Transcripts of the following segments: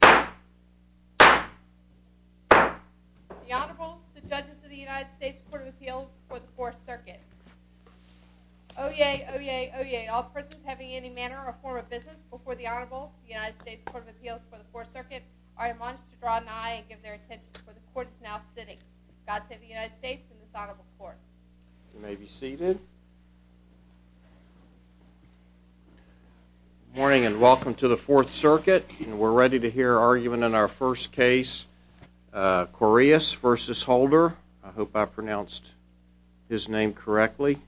The Honorable, the Judges of the United States Court of Appeals for the Fourth Circuit. Oyez, oyez, oyez, all persons having any manner or form of business before the Honorable, the United States Court of Appeals for the Fourth Circuit are admonished to draw an eye and give their attention to where the Court is now sitting. God save the United States and this Honorable Court. You may be seated. Good morning and welcome to the Fourth Circuit. We're ready to hear argument in our first case, Coreas v. Holder. I hope I pronounced his name correctly.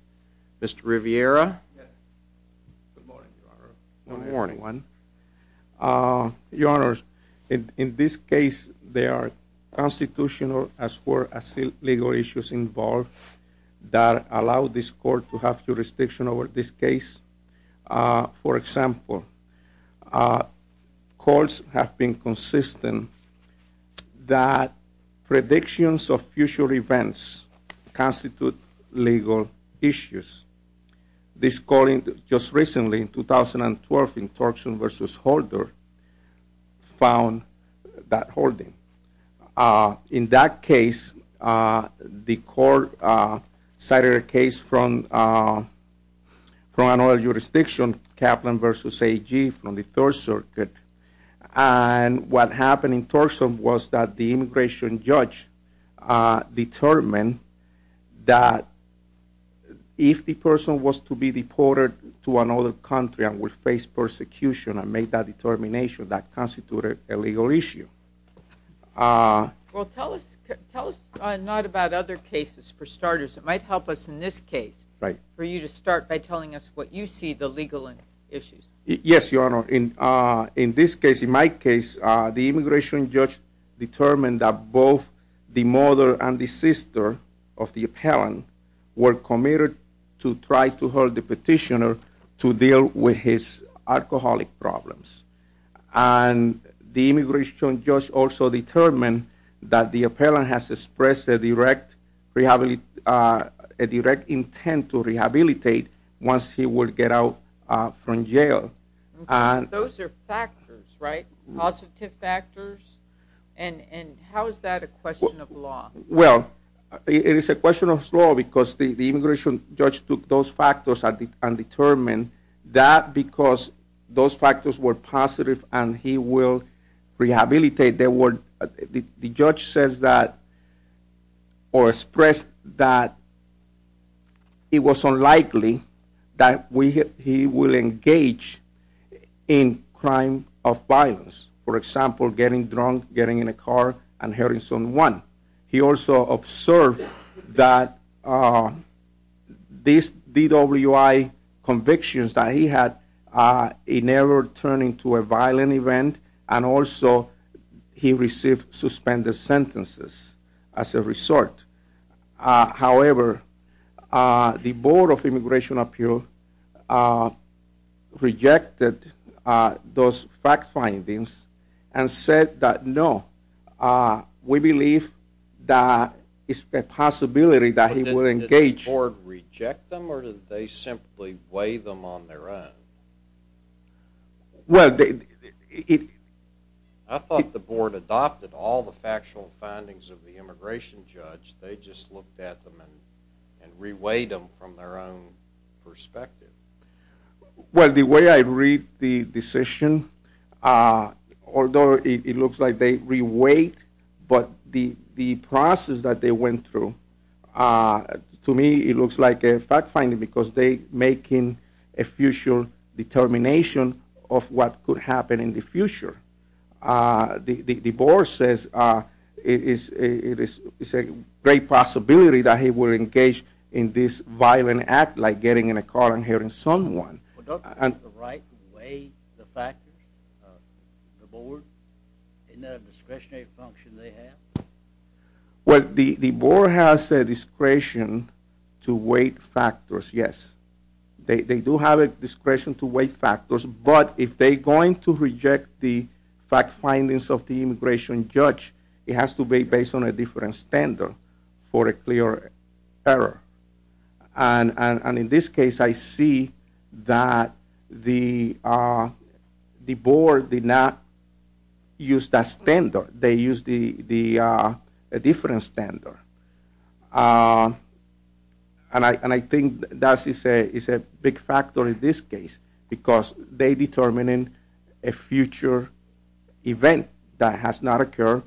Mr. Riviera. Good morning, Your Honor. Good morning, everyone. Your Honor, in this case, there are constitutional as well as legal issues involved that allow this Court to have jurisdiction over this case. For example, courts have been consistent that predictions of future events constitute legal issues. This Court, just recently, in 2012, in Torgerson v. Holder, found that holding. In that case, the Court cited a case from another jurisdiction, Kaplan v. AG, from the Third Circuit. And what happened in Torgerson was that the immigration judge determined that if the person was to be deported to another country and would face persecution and make that determination, that constituted a legal issue. Well, tell us not about other cases, for starters. It might help us in this case for you to start by telling us what you see the legal issues. Yes, Your Honor. In this case, in my case, the immigration judge determined that both the mother and the sister of the appellant were committed to try to hold the petitioner to deal with his alcoholic problems. And the immigration judge also determined that the appellant has expressed a direct intent to rehabilitate once he would get out from jail. Those are factors, right? Positive factors? And how is that a question of law? Well, it is a question of law because the immigration judge took those factors and determined that because those factors were positive and he will rehabilitate, the judge says that or expressed that it was unlikely that he will engage in crime of violence. For example, getting drunk, getting in a car, and Harrison 1. He also observed that these DWI convictions that he had never turned into a violent event and also he received suspended sentences as a result. However, the Board of Immigration Appeals rejected those fact findings and said that no, we believe that it's a possibility that he will engage. Did the board reject them or did they simply weigh them on their own? Well, they... I thought the board adopted all the factual findings of the immigration judge. They just looked at them and re-weighed them from their own perspective. Well, the way I read the decision, although it looks like they re-weighed, but the process that they went through, to me it looks like a fact finding because they're making a future determination of what could happen in the future. The board says it is a great possibility that he will engage in this violent act like getting in a car and hurting someone. Well, don't they have the right to weigh the factors? The board? Isn't that a discretionary function they have? Well, the board has a discretion to weight factors, yes. They do have a discretion to weight factors, but if they're going to reject the fact findings of the immigration judge, it has to be based on a different standard for a clear error. And in this case, I see that the board did not use that standard. They used a different standard. And I think that is a big factor in this case because they're determining a future event that has not occurred,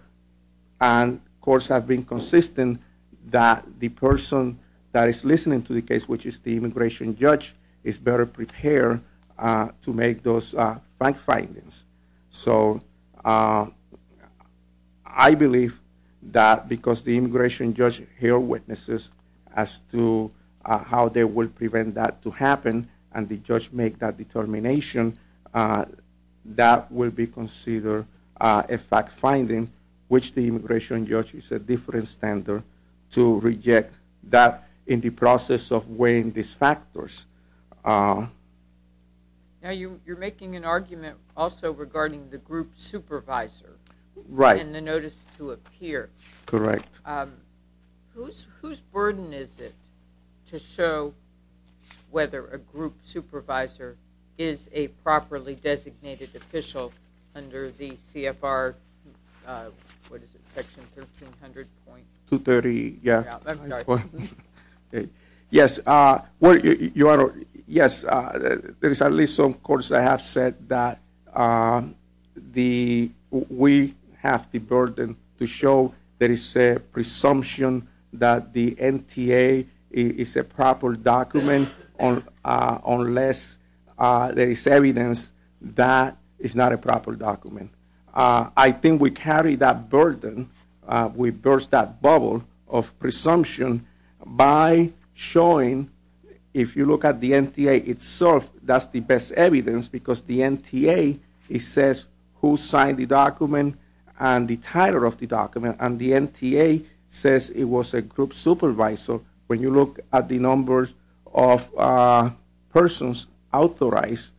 and courts have been consistent that the person that is listening to the case, which is the immigration judge, is better prepared to make those fact findings. So I believe that because the immigration judge hear witnesses as to how they will prevent that to happen and the judge make that determination, that will be considered a fact finding, which the immigration judge is a different standard to reject that in the process of weighing these factors. Now, you're making an argument also regarding the group supervisor and the notice to appear. Correct. Whose burden is it to show whether a group supervisor is a properly designated official under the CFR, what is it, section 1300.2? 230, yeah. I'm sorry. Yes, there is at least some courts that have said that we have the burden to show there is a presumption that the NTA is a proper document unless there is evidence that it's not a proper document. I think we carry that burden. We burst that bubble of presumption by showing, if you look at the NTA itself, that's the best evidence because the NTA says who signed the document and the title of the document, and the NTA says it was a group supervisor. When you look at the numbers of persons authorized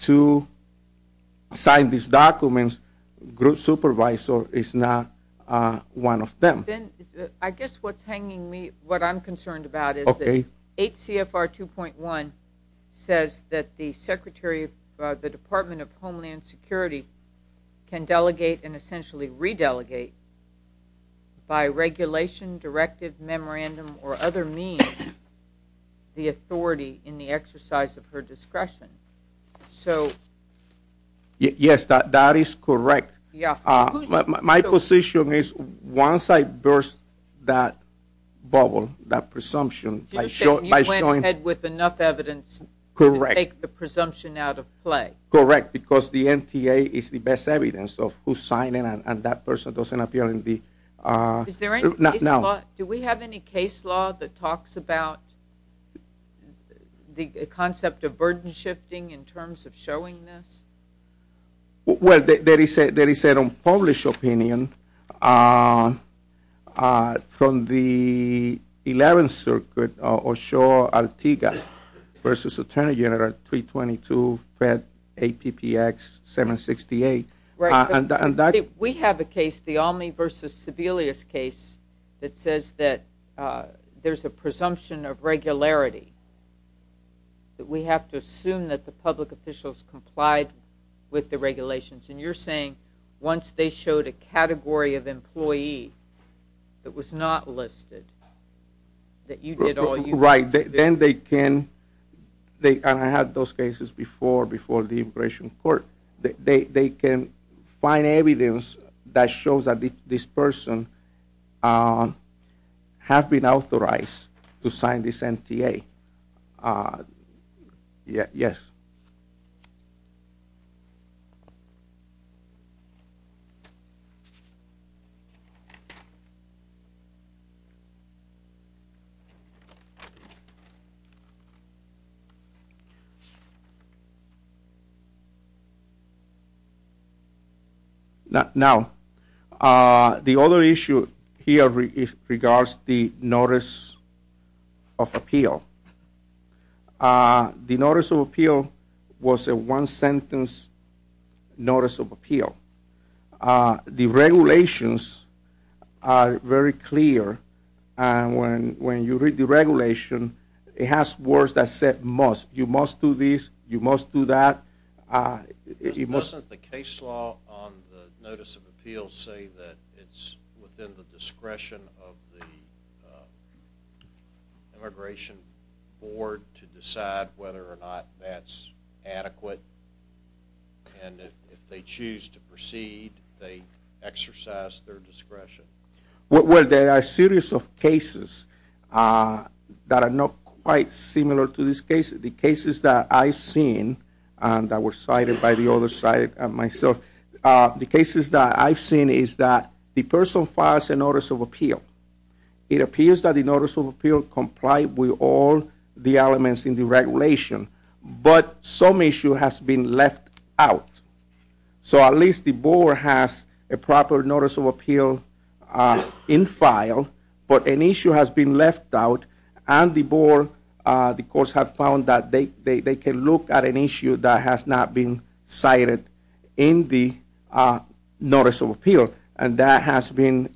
to sign these documents, group supervisor is not one of them. Ben, I guess what's hanging me, what I'm concerned about is that 8 CFR 2.1 says that the Secretary of the Department of Homeland Security can delegate and essentially re-delegate by regulation, directive, memorandum, or other means the authority in the exercise of her discretion. So... Yes, that is correct. My position is once I burst that bubble, that presumption, by showing... You said you went ahead with enough evidence to take the presumption out of play. Correct, because the NTA is the best evidence of who's signing and that person doesn't appear in the... Do we have any case law that talks about the concept of burden shifting in terms of showing this? Well, there is an unpublished opinion from the 11th Circuit, Oshawa-Altiga v. Attorney General 322, APPX 768. We have a case, the Almy v. Sebelius case, that says that there's a presumption of regularity, that we have to assume that the public officials complied with the regulations. And you're saying once they showed a category of employee that was not listed, that you did all you could. Right, then they can, and I had those cases before, before the immigration court, they can find evidence that shows that this person has been authorized to sign this NTA. Yes. Now, the other issue here regards the notice of appeal. The notice of appeal was a one-sentence notice of appeal. The regulations are very clear, and when you read the regulation, it has words that said must. You must do this, you must do that. Doesn't the case law on the notice of appeal say that it's within the discretion of the immigration board to decide whether or not that's adequate? And if they choose to proceed, they exercise their discretion. Well, there are a series of cases that are not quite similar to this case. The cases that I've seen, and that were cited by the other side myself, the cases that I've seen is that the person files a notice of appeal. It appears that the notice of appeal complied with all the elements in the regulation, but some issue has been left out. So at least the board has a proper notice of appeal in file, but an issue has been left out, and the board, the courts have found that they can look at an issue that has not been cited in the notice of appeal, and that has been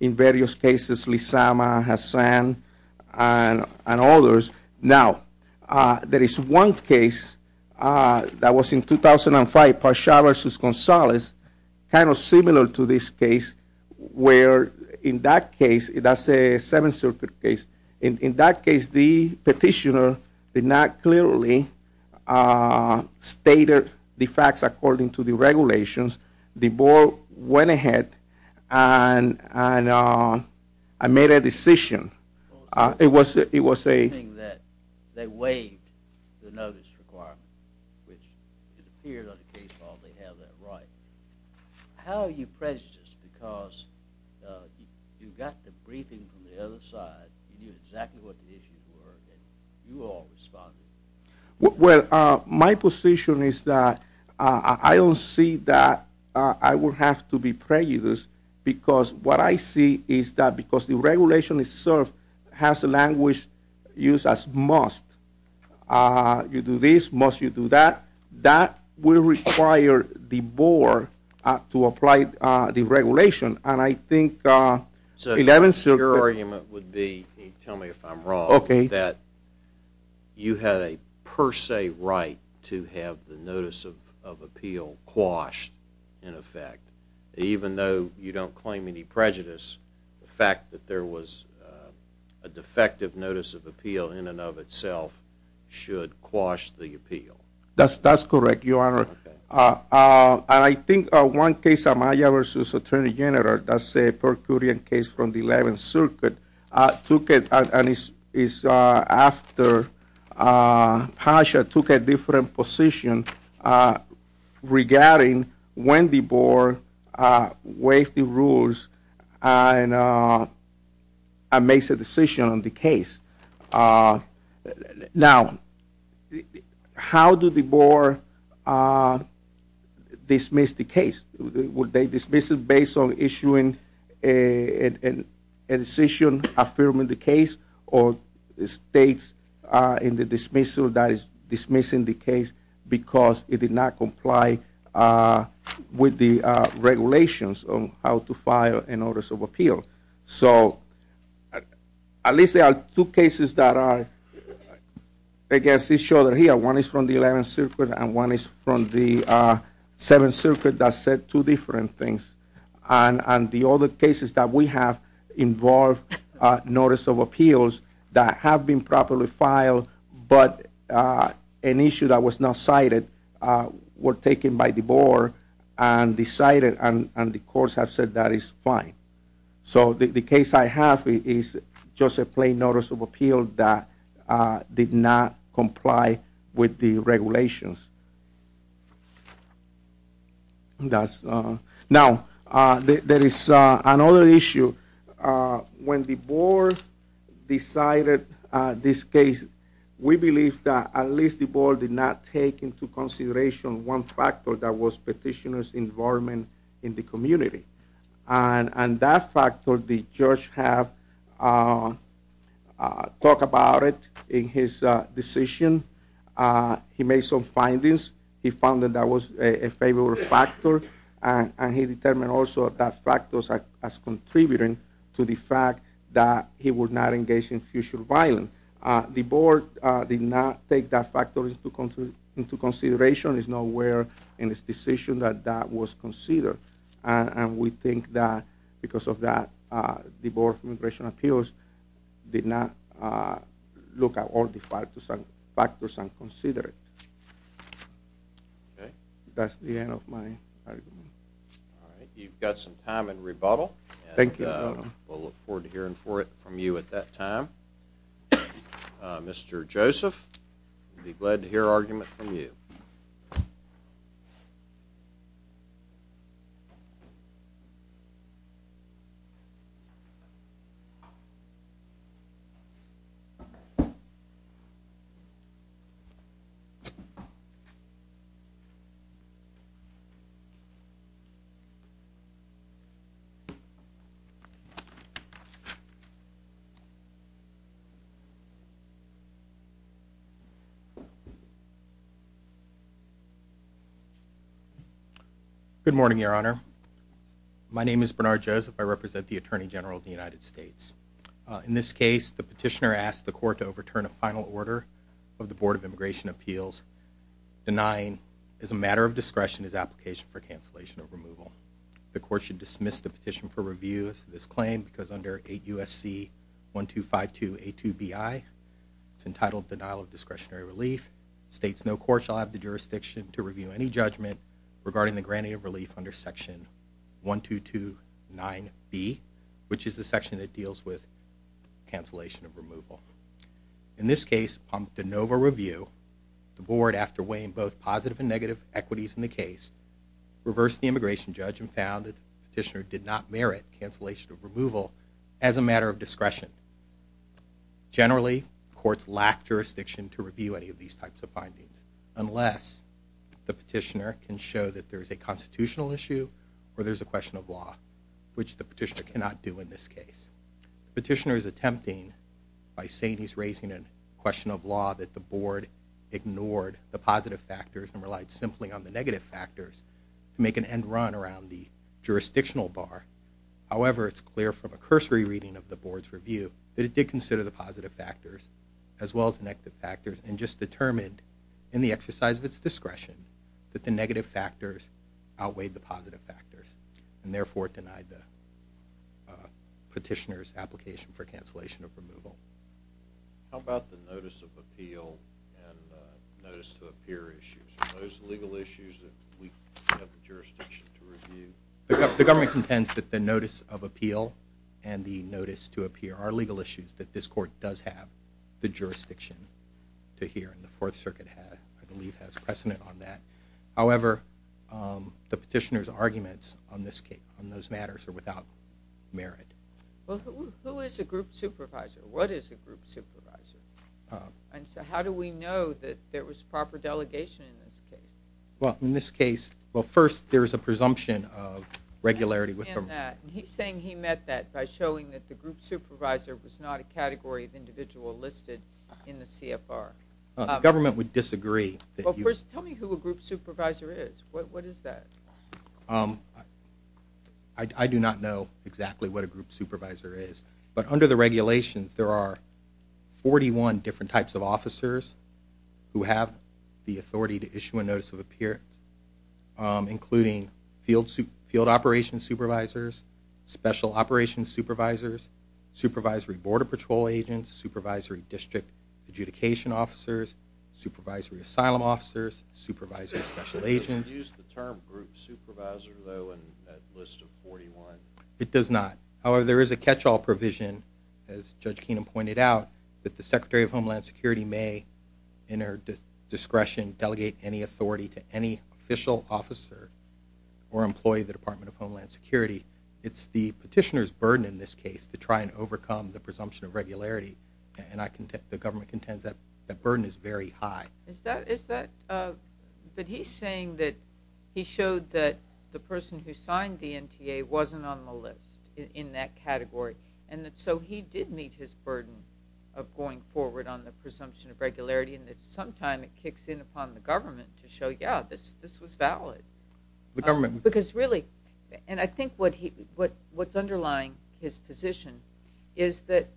in various cases, Lizama, Hassan, and others. Now, there is one case that was in 2005, Pasha v. Gonzalez, kind of similar to this case, where in that case, that's a Seventh Circuit case, in that case the petitioner did not clearly state the facts according to the regulations. The board went ahead and made a decision. It was a... They waived the notice requirement, which it appears on the case file they have that right. How are you prejudiced, because you got the briefing from the other side, you knew exactly what the issues were, and you all responded. Well, my position is that I don't see that I would have to be prejudiced, because what I see is that because the regulation itself has the language used as must, you do this, must you do that, that will require the board to apply the regulation, and I think Eleventh Circuit... So your argument would be, and tell me if I'm wrong, that you had a per se right to have the notice of appeal quashed in effect, even though you don't claim any prejudice, the fact that there was a defective notice of appeal in and of itself should quash the appeal. That's correct, Your Honor. And I think one case, Amaya v. Attorney General, that's a per curiam case from the Eleventh Circuit, and it's after Pasha took a different position regarding when the board waived the rules and makes a decision on the case. Now, how did the board dismiss the case? Would they dismiss it based on issuing a decision affirming the case or states in the dismissal that is dismissing the case because it did not comply with the regulations on how to file a notice of appeal? So at least there are two cases that are against each other here. One is from the Eleventh Circuit and one is from the Seventh Circuit that said two different things. And the other cases that we have involved notice of appeals that have been properly filed but an issue that was not cited were taken by the board and decided, and the courts have said that is fine. So the case I have is just a plain notice of appeal that did not comply with the regulations. Now, there is another issue. When the board decided this case, we believe that at least the board did not take into consideration one factor that was petitioner's involvement in the community. And that factor, the judge have talked about it in his decision. He made some findings. He found that that was a favorable factor and he determined also that factors as contributing to the fact that he would not engage in future violence. The board did not take that factor into consideration. It's nowhere in this decision that that was considered. And we think that because of that, the board immigration appeals did not look at all the factors and consider it. That's the end of my argument. You've got some time in rebuttal. Thank you. We'll look forward to hearing from you at that time. Mr. Joseph, we'll be glad to hear argument from you. Thank you. Good morning, Your Honor. My name is Bernard Joseph. I represent the Attorney General of the United States. In this case, the petitioner asked the court to overturn a final order of the Board of Immigration Appeals denying as a matter of discretion his application for cancellation of removal. The court should dismiss the petition for review of this claim because under 8 U.S.C. 1252A2BI, it's entitled Denial of Discretionary Relief. States no court shall have the jurisdiction to review any judgment regarding the granting of relief under section 1229B, which is the section that deals with cancellation of removal. In this case, upon de novo review, the board, after weighing both positive and negative equities in the case, reversed the immigration judge and found that the petitioner did not merit cancellation of removal as a matter of discretion. Generally, courts lack jurisdiction to review any of these types of findings unless the petitioner can show that there's a constitutional issue or there's a question of law, which the petitioner cannot do in this case. The petitioner is attempting by saying he's raising a question of law that the board ignored the positive factors and relied simply on the negative factors to make an end run around the jurisdictional bar. However, it's clear from a cursory reading of the board's review that it did consider the positive factors as well as the negative factors and just determined in the exercise of its discretion that the negative factors outweighed the positive factors and therefore denied the petitioner's application for cancellation of removal. How about the notice of appeal and notice to appear issues? The government contends that the notice of appeal and the notice to appear are legal issues that this court does have the jurisdiction to hear, and the Fourth Circuit, I believe, has precedent on that. However, the petitioner's arguments on those matters are without merit. Well, who is a group supervisor? What is a group supervisor? And so how do we know that there was proper delegation in this case? Well, in this case, well, first, there's a presumption of regularity. He's saying he meant that by showing that the group supervisor was not a category of individual listed in the CFR. The government would disagree. Well, first, tell me who a group supervisor is. What is that? I do not know exactly what a group supervisor is. But under the regulations, there are 41 different types of officers who have the authority to issue a notice of appearance, including field operations supervisors, special operations supervisors, supervisory border patrol agents, supervisory district adjudication officers, supervisory asylum officers, supervisory special agents. Does it use the term group supervisor, though, in that list of 41? It does not. However, there is a catch-all provision, as Judge Keenum pointed out, that the Secretary of Homeland Security may, in her discretion, delegate any authority to any official officer or employee of the Department of Homeland Security. It's the petitioner's burden in this case to try and overcome the presumption of regularity, and the government contends that burden is very high. But he's saying that he showed that the person who signed the NTA wasn't on the list in that category, and so he did meet his burden of going forward on the presumption of regularity, and that sometime it kicks in upon the government to show, yeah, this was valid. Because really, and I think what's underlying his position is that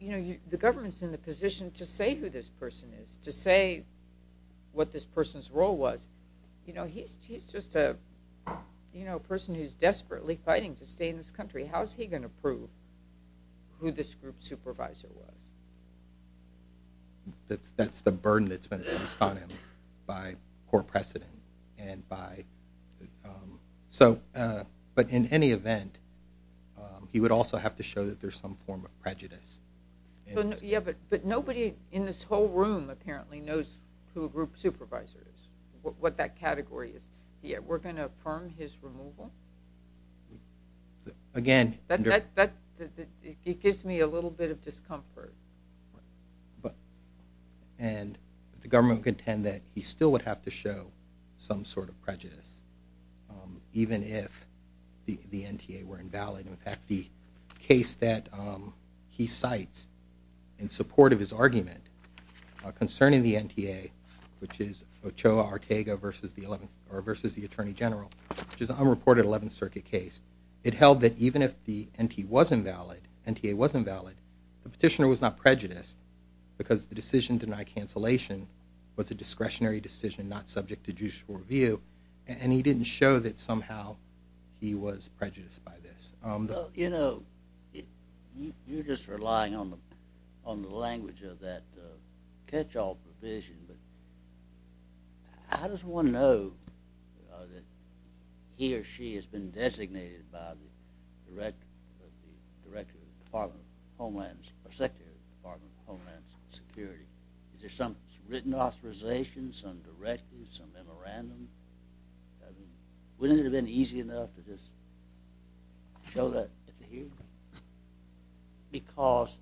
the government's in the position to say who this person is, to say what this person's role was. He's just a person who's desperately fighting to stay in this country. How is he going to prove who this group supervisor was? That's the burden that's been placed on him by poor precedent. But in any event, he would also have to show that there's some form of prejudice. Yeah, but nobody in this whole room apparently knows who a group supervisor is, what that category is. We're going to affirm his removal? It gives me a little bit of discomfort. And the government would contend that he still would have to show some sort of prejudice, even if the NTA were invalid. In fact, the case that he cites in support of his argument concerning the NTA, which is Ochoa Ortega versus the Attorney General, which is an unreported Eleventh Circuit case, it held that even if the NTA was invalid, the petitioner was not prejudiced because the decision to deny cancellation was a discretionary decision not subject to judicial review, and he didn't show that somehow he was prejudiced by this. You know, you're just relying on the language of that catch-all provision, but how does one know that he or she has been designated by the Secretary of the Department of Homeland Security? Is there some written authorization, some directive, some memorandum? Wouldn't it have been easy enough to just show that at the hearing? Because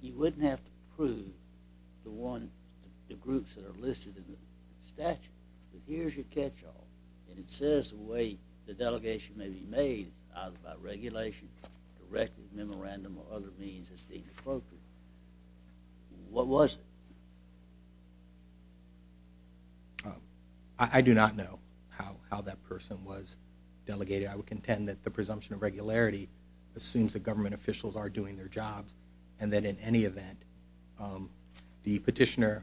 you wouldn't have to prove to the groups that are listed in the statute that here's your catch-all, and it says the way the delegation may be made is either by regulation, directive, memorandum, or other means that's inappropriate. What was it? I do not know how that person was delegated. I would contend that the presumption of regularity assumes that government officials are doing their jobs and that in any event the petitioner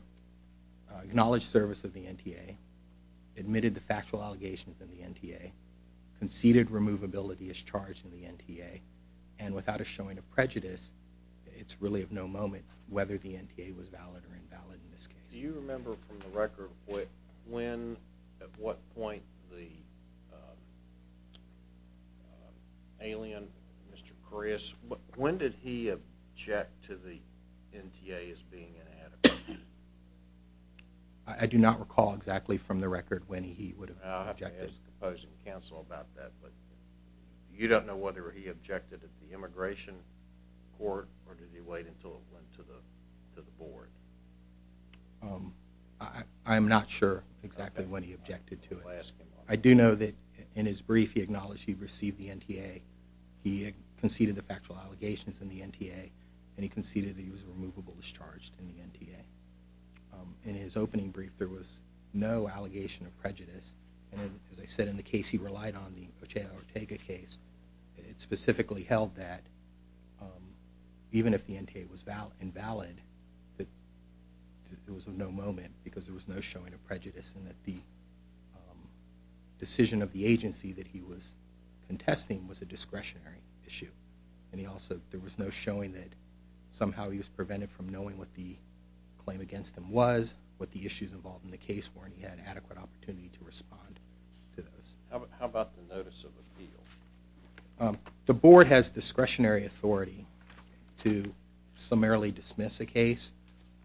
acknowledged service of the NTA, admitted the factual allegations in the NTA, conceded removability is charged in the NTA, and without us showing a prejudice, it's really of no moment whether the NTA was valid or invalid in this case. Do you remember from the record when, at what point, the alien, Mr. Prius, when did he object to the NTA as being inadequate? I do not recall exactly from the record when he would have objected. I'll have to ask the opposing counsel about that, but you don't know whether he objected at the immigration court or did he wait until it went to the board? I'm not sure exactly when he objected to it. I'll ask him. I do know that in his brief he acknowledged he received the NTA, he conceded the factual allegations in the NTA, and he conceded that he was removable is charged in the NTA. In his opening brief, there was no allegation of prejudice. As I said, in the case he relied on, the Ochea Ortega case, it specifically held that even if the NTA was invalid, that it was of no moment because there was no showing of prejudice and that the decision of the agency that he was contesting was a discretionary issue. There was no showing that somehow he was prevented from knowing what the claim against him was, what the issues involved in the case were, and he had adequate opportunity to respond to those. How about the notice of appeal? The board has discretionary authority to summarily dismiss a case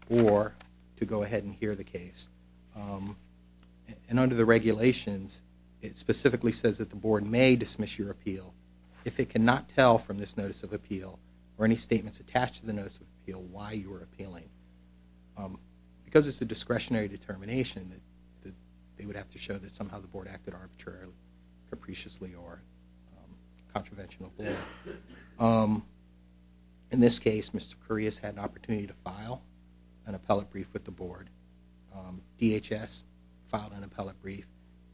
or to go ahead and hear the case. Under the regulations, it specifically says that the board may dismiss your appeal. If it cannot tell from this notice of appeal or any statements attached to the notice of appeal why you were appealing, because it's a discretionary determination, they would have to show that somehow the board acted arbitrarily, capriciously, or contraventionally. In this case, Mr. Correas had an opportunity to file an appellate brief with the board. DHS filed an appellate brief,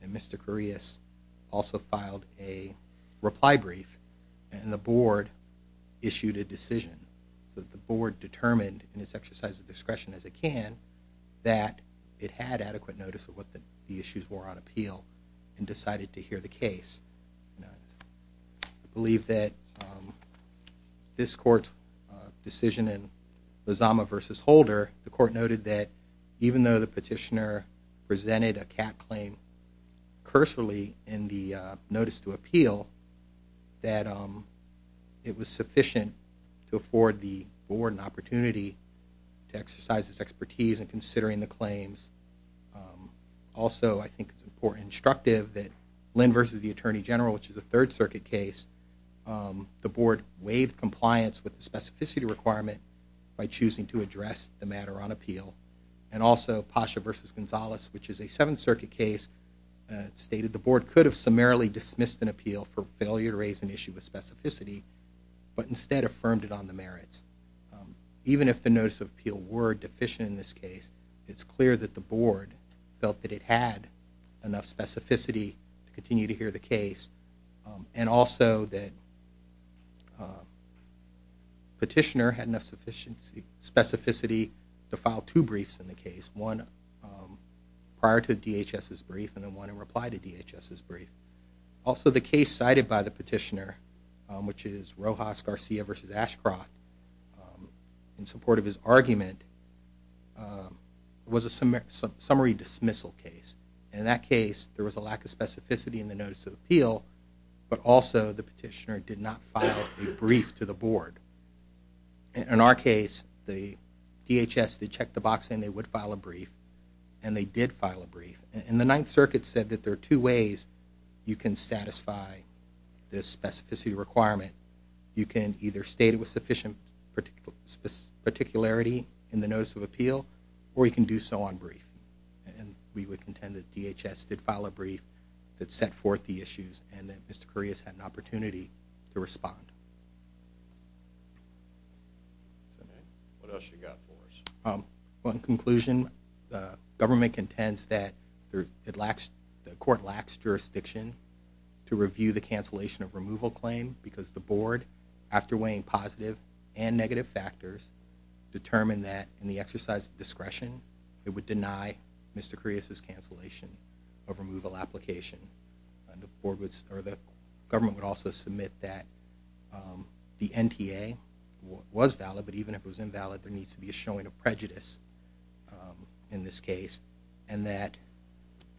and Mr. Correas also filed a reply brief, and the board issued a decision. The board determined in its exercise of discretion as it can that it had adequate notice of what the issues were on appeal and decided to hear the case. I believe that this court's decision in Lozama v. Holder, the court noted that even though the petitioner presented a cap claim cursory in the notice to appeal, that it was sufficient to afford the board an opportunity to exercise its expertise in considering the claims. Also, I think it's important and instructive that Lynn v. the Attorney General, which is a Third Circuit case, the board waived compliance with the specificity requirement by choosing to address the matter on appeal. Also, Pasha v. Gonzalez, which is a Seventh Circuit case, stated the board could have summarily dismissed an appeal for failure to raise an issue with specificity, but instead affirmed it on the merits. Even if the notice of appeal were deficient in this case, it's clear that the board felt that it had enough specificity to continue to hear the case and also that the petitioner had enough specificity to file two briefs in the case, one prior to DHS's brief and then one in reply to DHS's brief. Also, the case cited by the petitioner, which is Rojas v. Garcia v. Ashcroft, in support of his argument, was a summary dismissal case. In that case, there was a lack of specificity in the notice of appeal, but also the petitioner did not file a brief to the board. In our case, DHS checked the box saying they would file a brief, and they did file a brief. The Ninth Circuit said that there are two ways you can satisfy this specificity requirement. You can either state it with sufficient particularity in the notice of appeal, or you can do so on brief. We would contend that DHS did file a brief that set forth the issues and that Mr. Kurias had an opportunity to respond. What else you got for us? Well, in conclusion, the government contends that the court lacks jurisdiction to review the cancellation of removal claim because the board, after weighing positive and negative factors, determined that in the exercise of discretion, it would deny Mr. Kurias' cancellation of removal application. The government would also submit that the NTA was valid, but even if it was invalid, there needs to be a showing of prejudice in this case, and that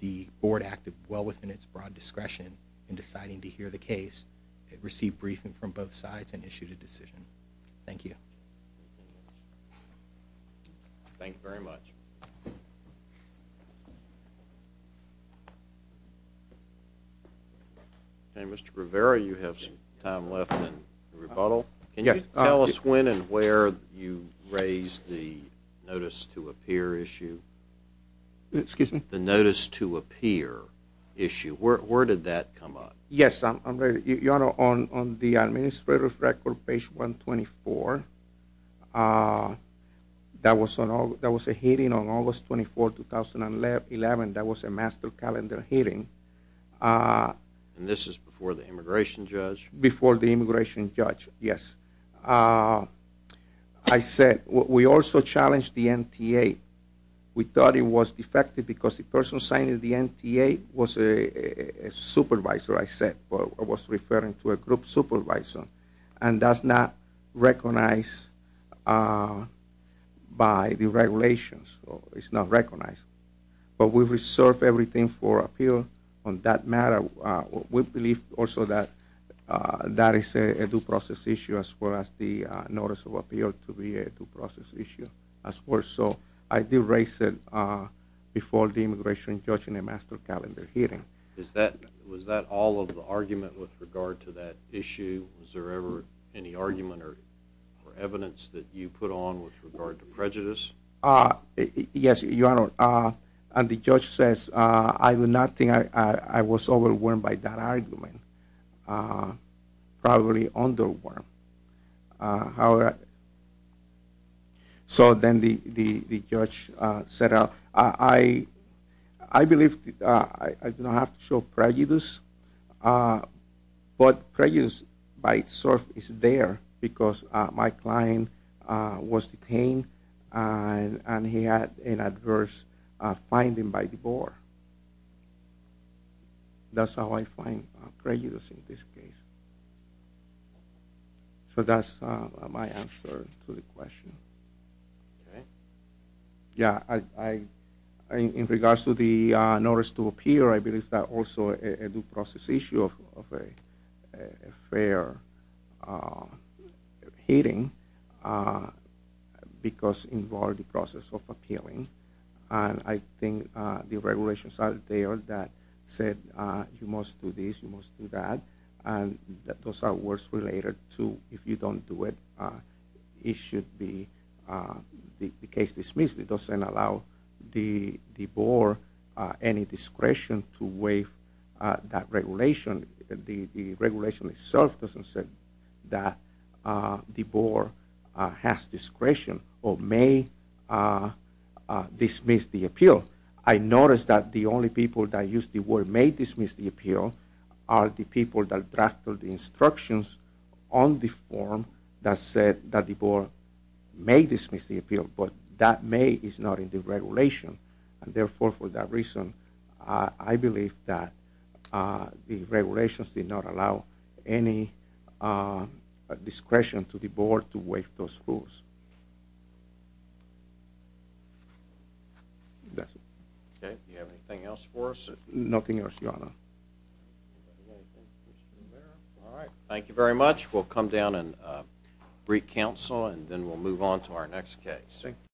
the board acted well within its broad discretion in deciding to hear the case. It received briefing from both sides and issued a decision. Thank you. Thank you very much. Mr. Rivera, you have some time left in rebuttal. Can you tell us when and where you raised the notice to appear issue? Excuse me? The notice to appear issue. Where did that come up? Yes, Your Honor, on the administrative record, page 124, that was a hearing on August 24, 2011. That was a master calendar hearing. And this is before the immigration judge? Before the immigration judge, yes. I said we also challenged the NTA. We thought it was defective because the person signing the NTA was a supervisor. That's what I said. I was referring to a group supervisor. And that's not recognized by the regulations. It's not recognized. But we reserve everything for appeal on that matter. We believe also that that is a due process issue as far as the notice of appeal to be a due process issue. So I did raise it before the immigration judge in a master calendar hearing. Was that all of the argument with regard to that issue? Was there ever any argument or evidence that you put on with regard to prejudice? Yes, Your Honor. And the judge says I do not think I was overwhelmed by that argument. Probably underwhelmed. However, so then the judge said I believe I do not have to show prejudice. But prejudice by itself is there because my client was detained and he had an adverse finding by the board. That's how I find prejudice in this case. So that's my answer to the question. Okay. Yeah, in regards to the notice to appear, I believe that also a due process issue of a fair hearing because involved the process of appealing. And I think the regulations are there that said you must do this, you must do that. And those are words related to if you don't do it, it should be the case dismissed. It doesn't allow the board any discretion to waive that regulation. The regulation itself doesn't say that the board has discretion or may dismiss the appeal. I noticed that the only people that used the word may dismiss the appeal are the people that drafted the instructions on the form that said that the board may dismiss the appeal. But that may is not in the regulation. And therefore, for that reason, I believe that the regulations did not allow any discretion to the board to waive those rules. That's it. Okay. Do you have anything else for us? Nothing else, Your Honor. All right. Thank you very much. We'll come down and brief counsel and then we'll move on to our next case. Thank you.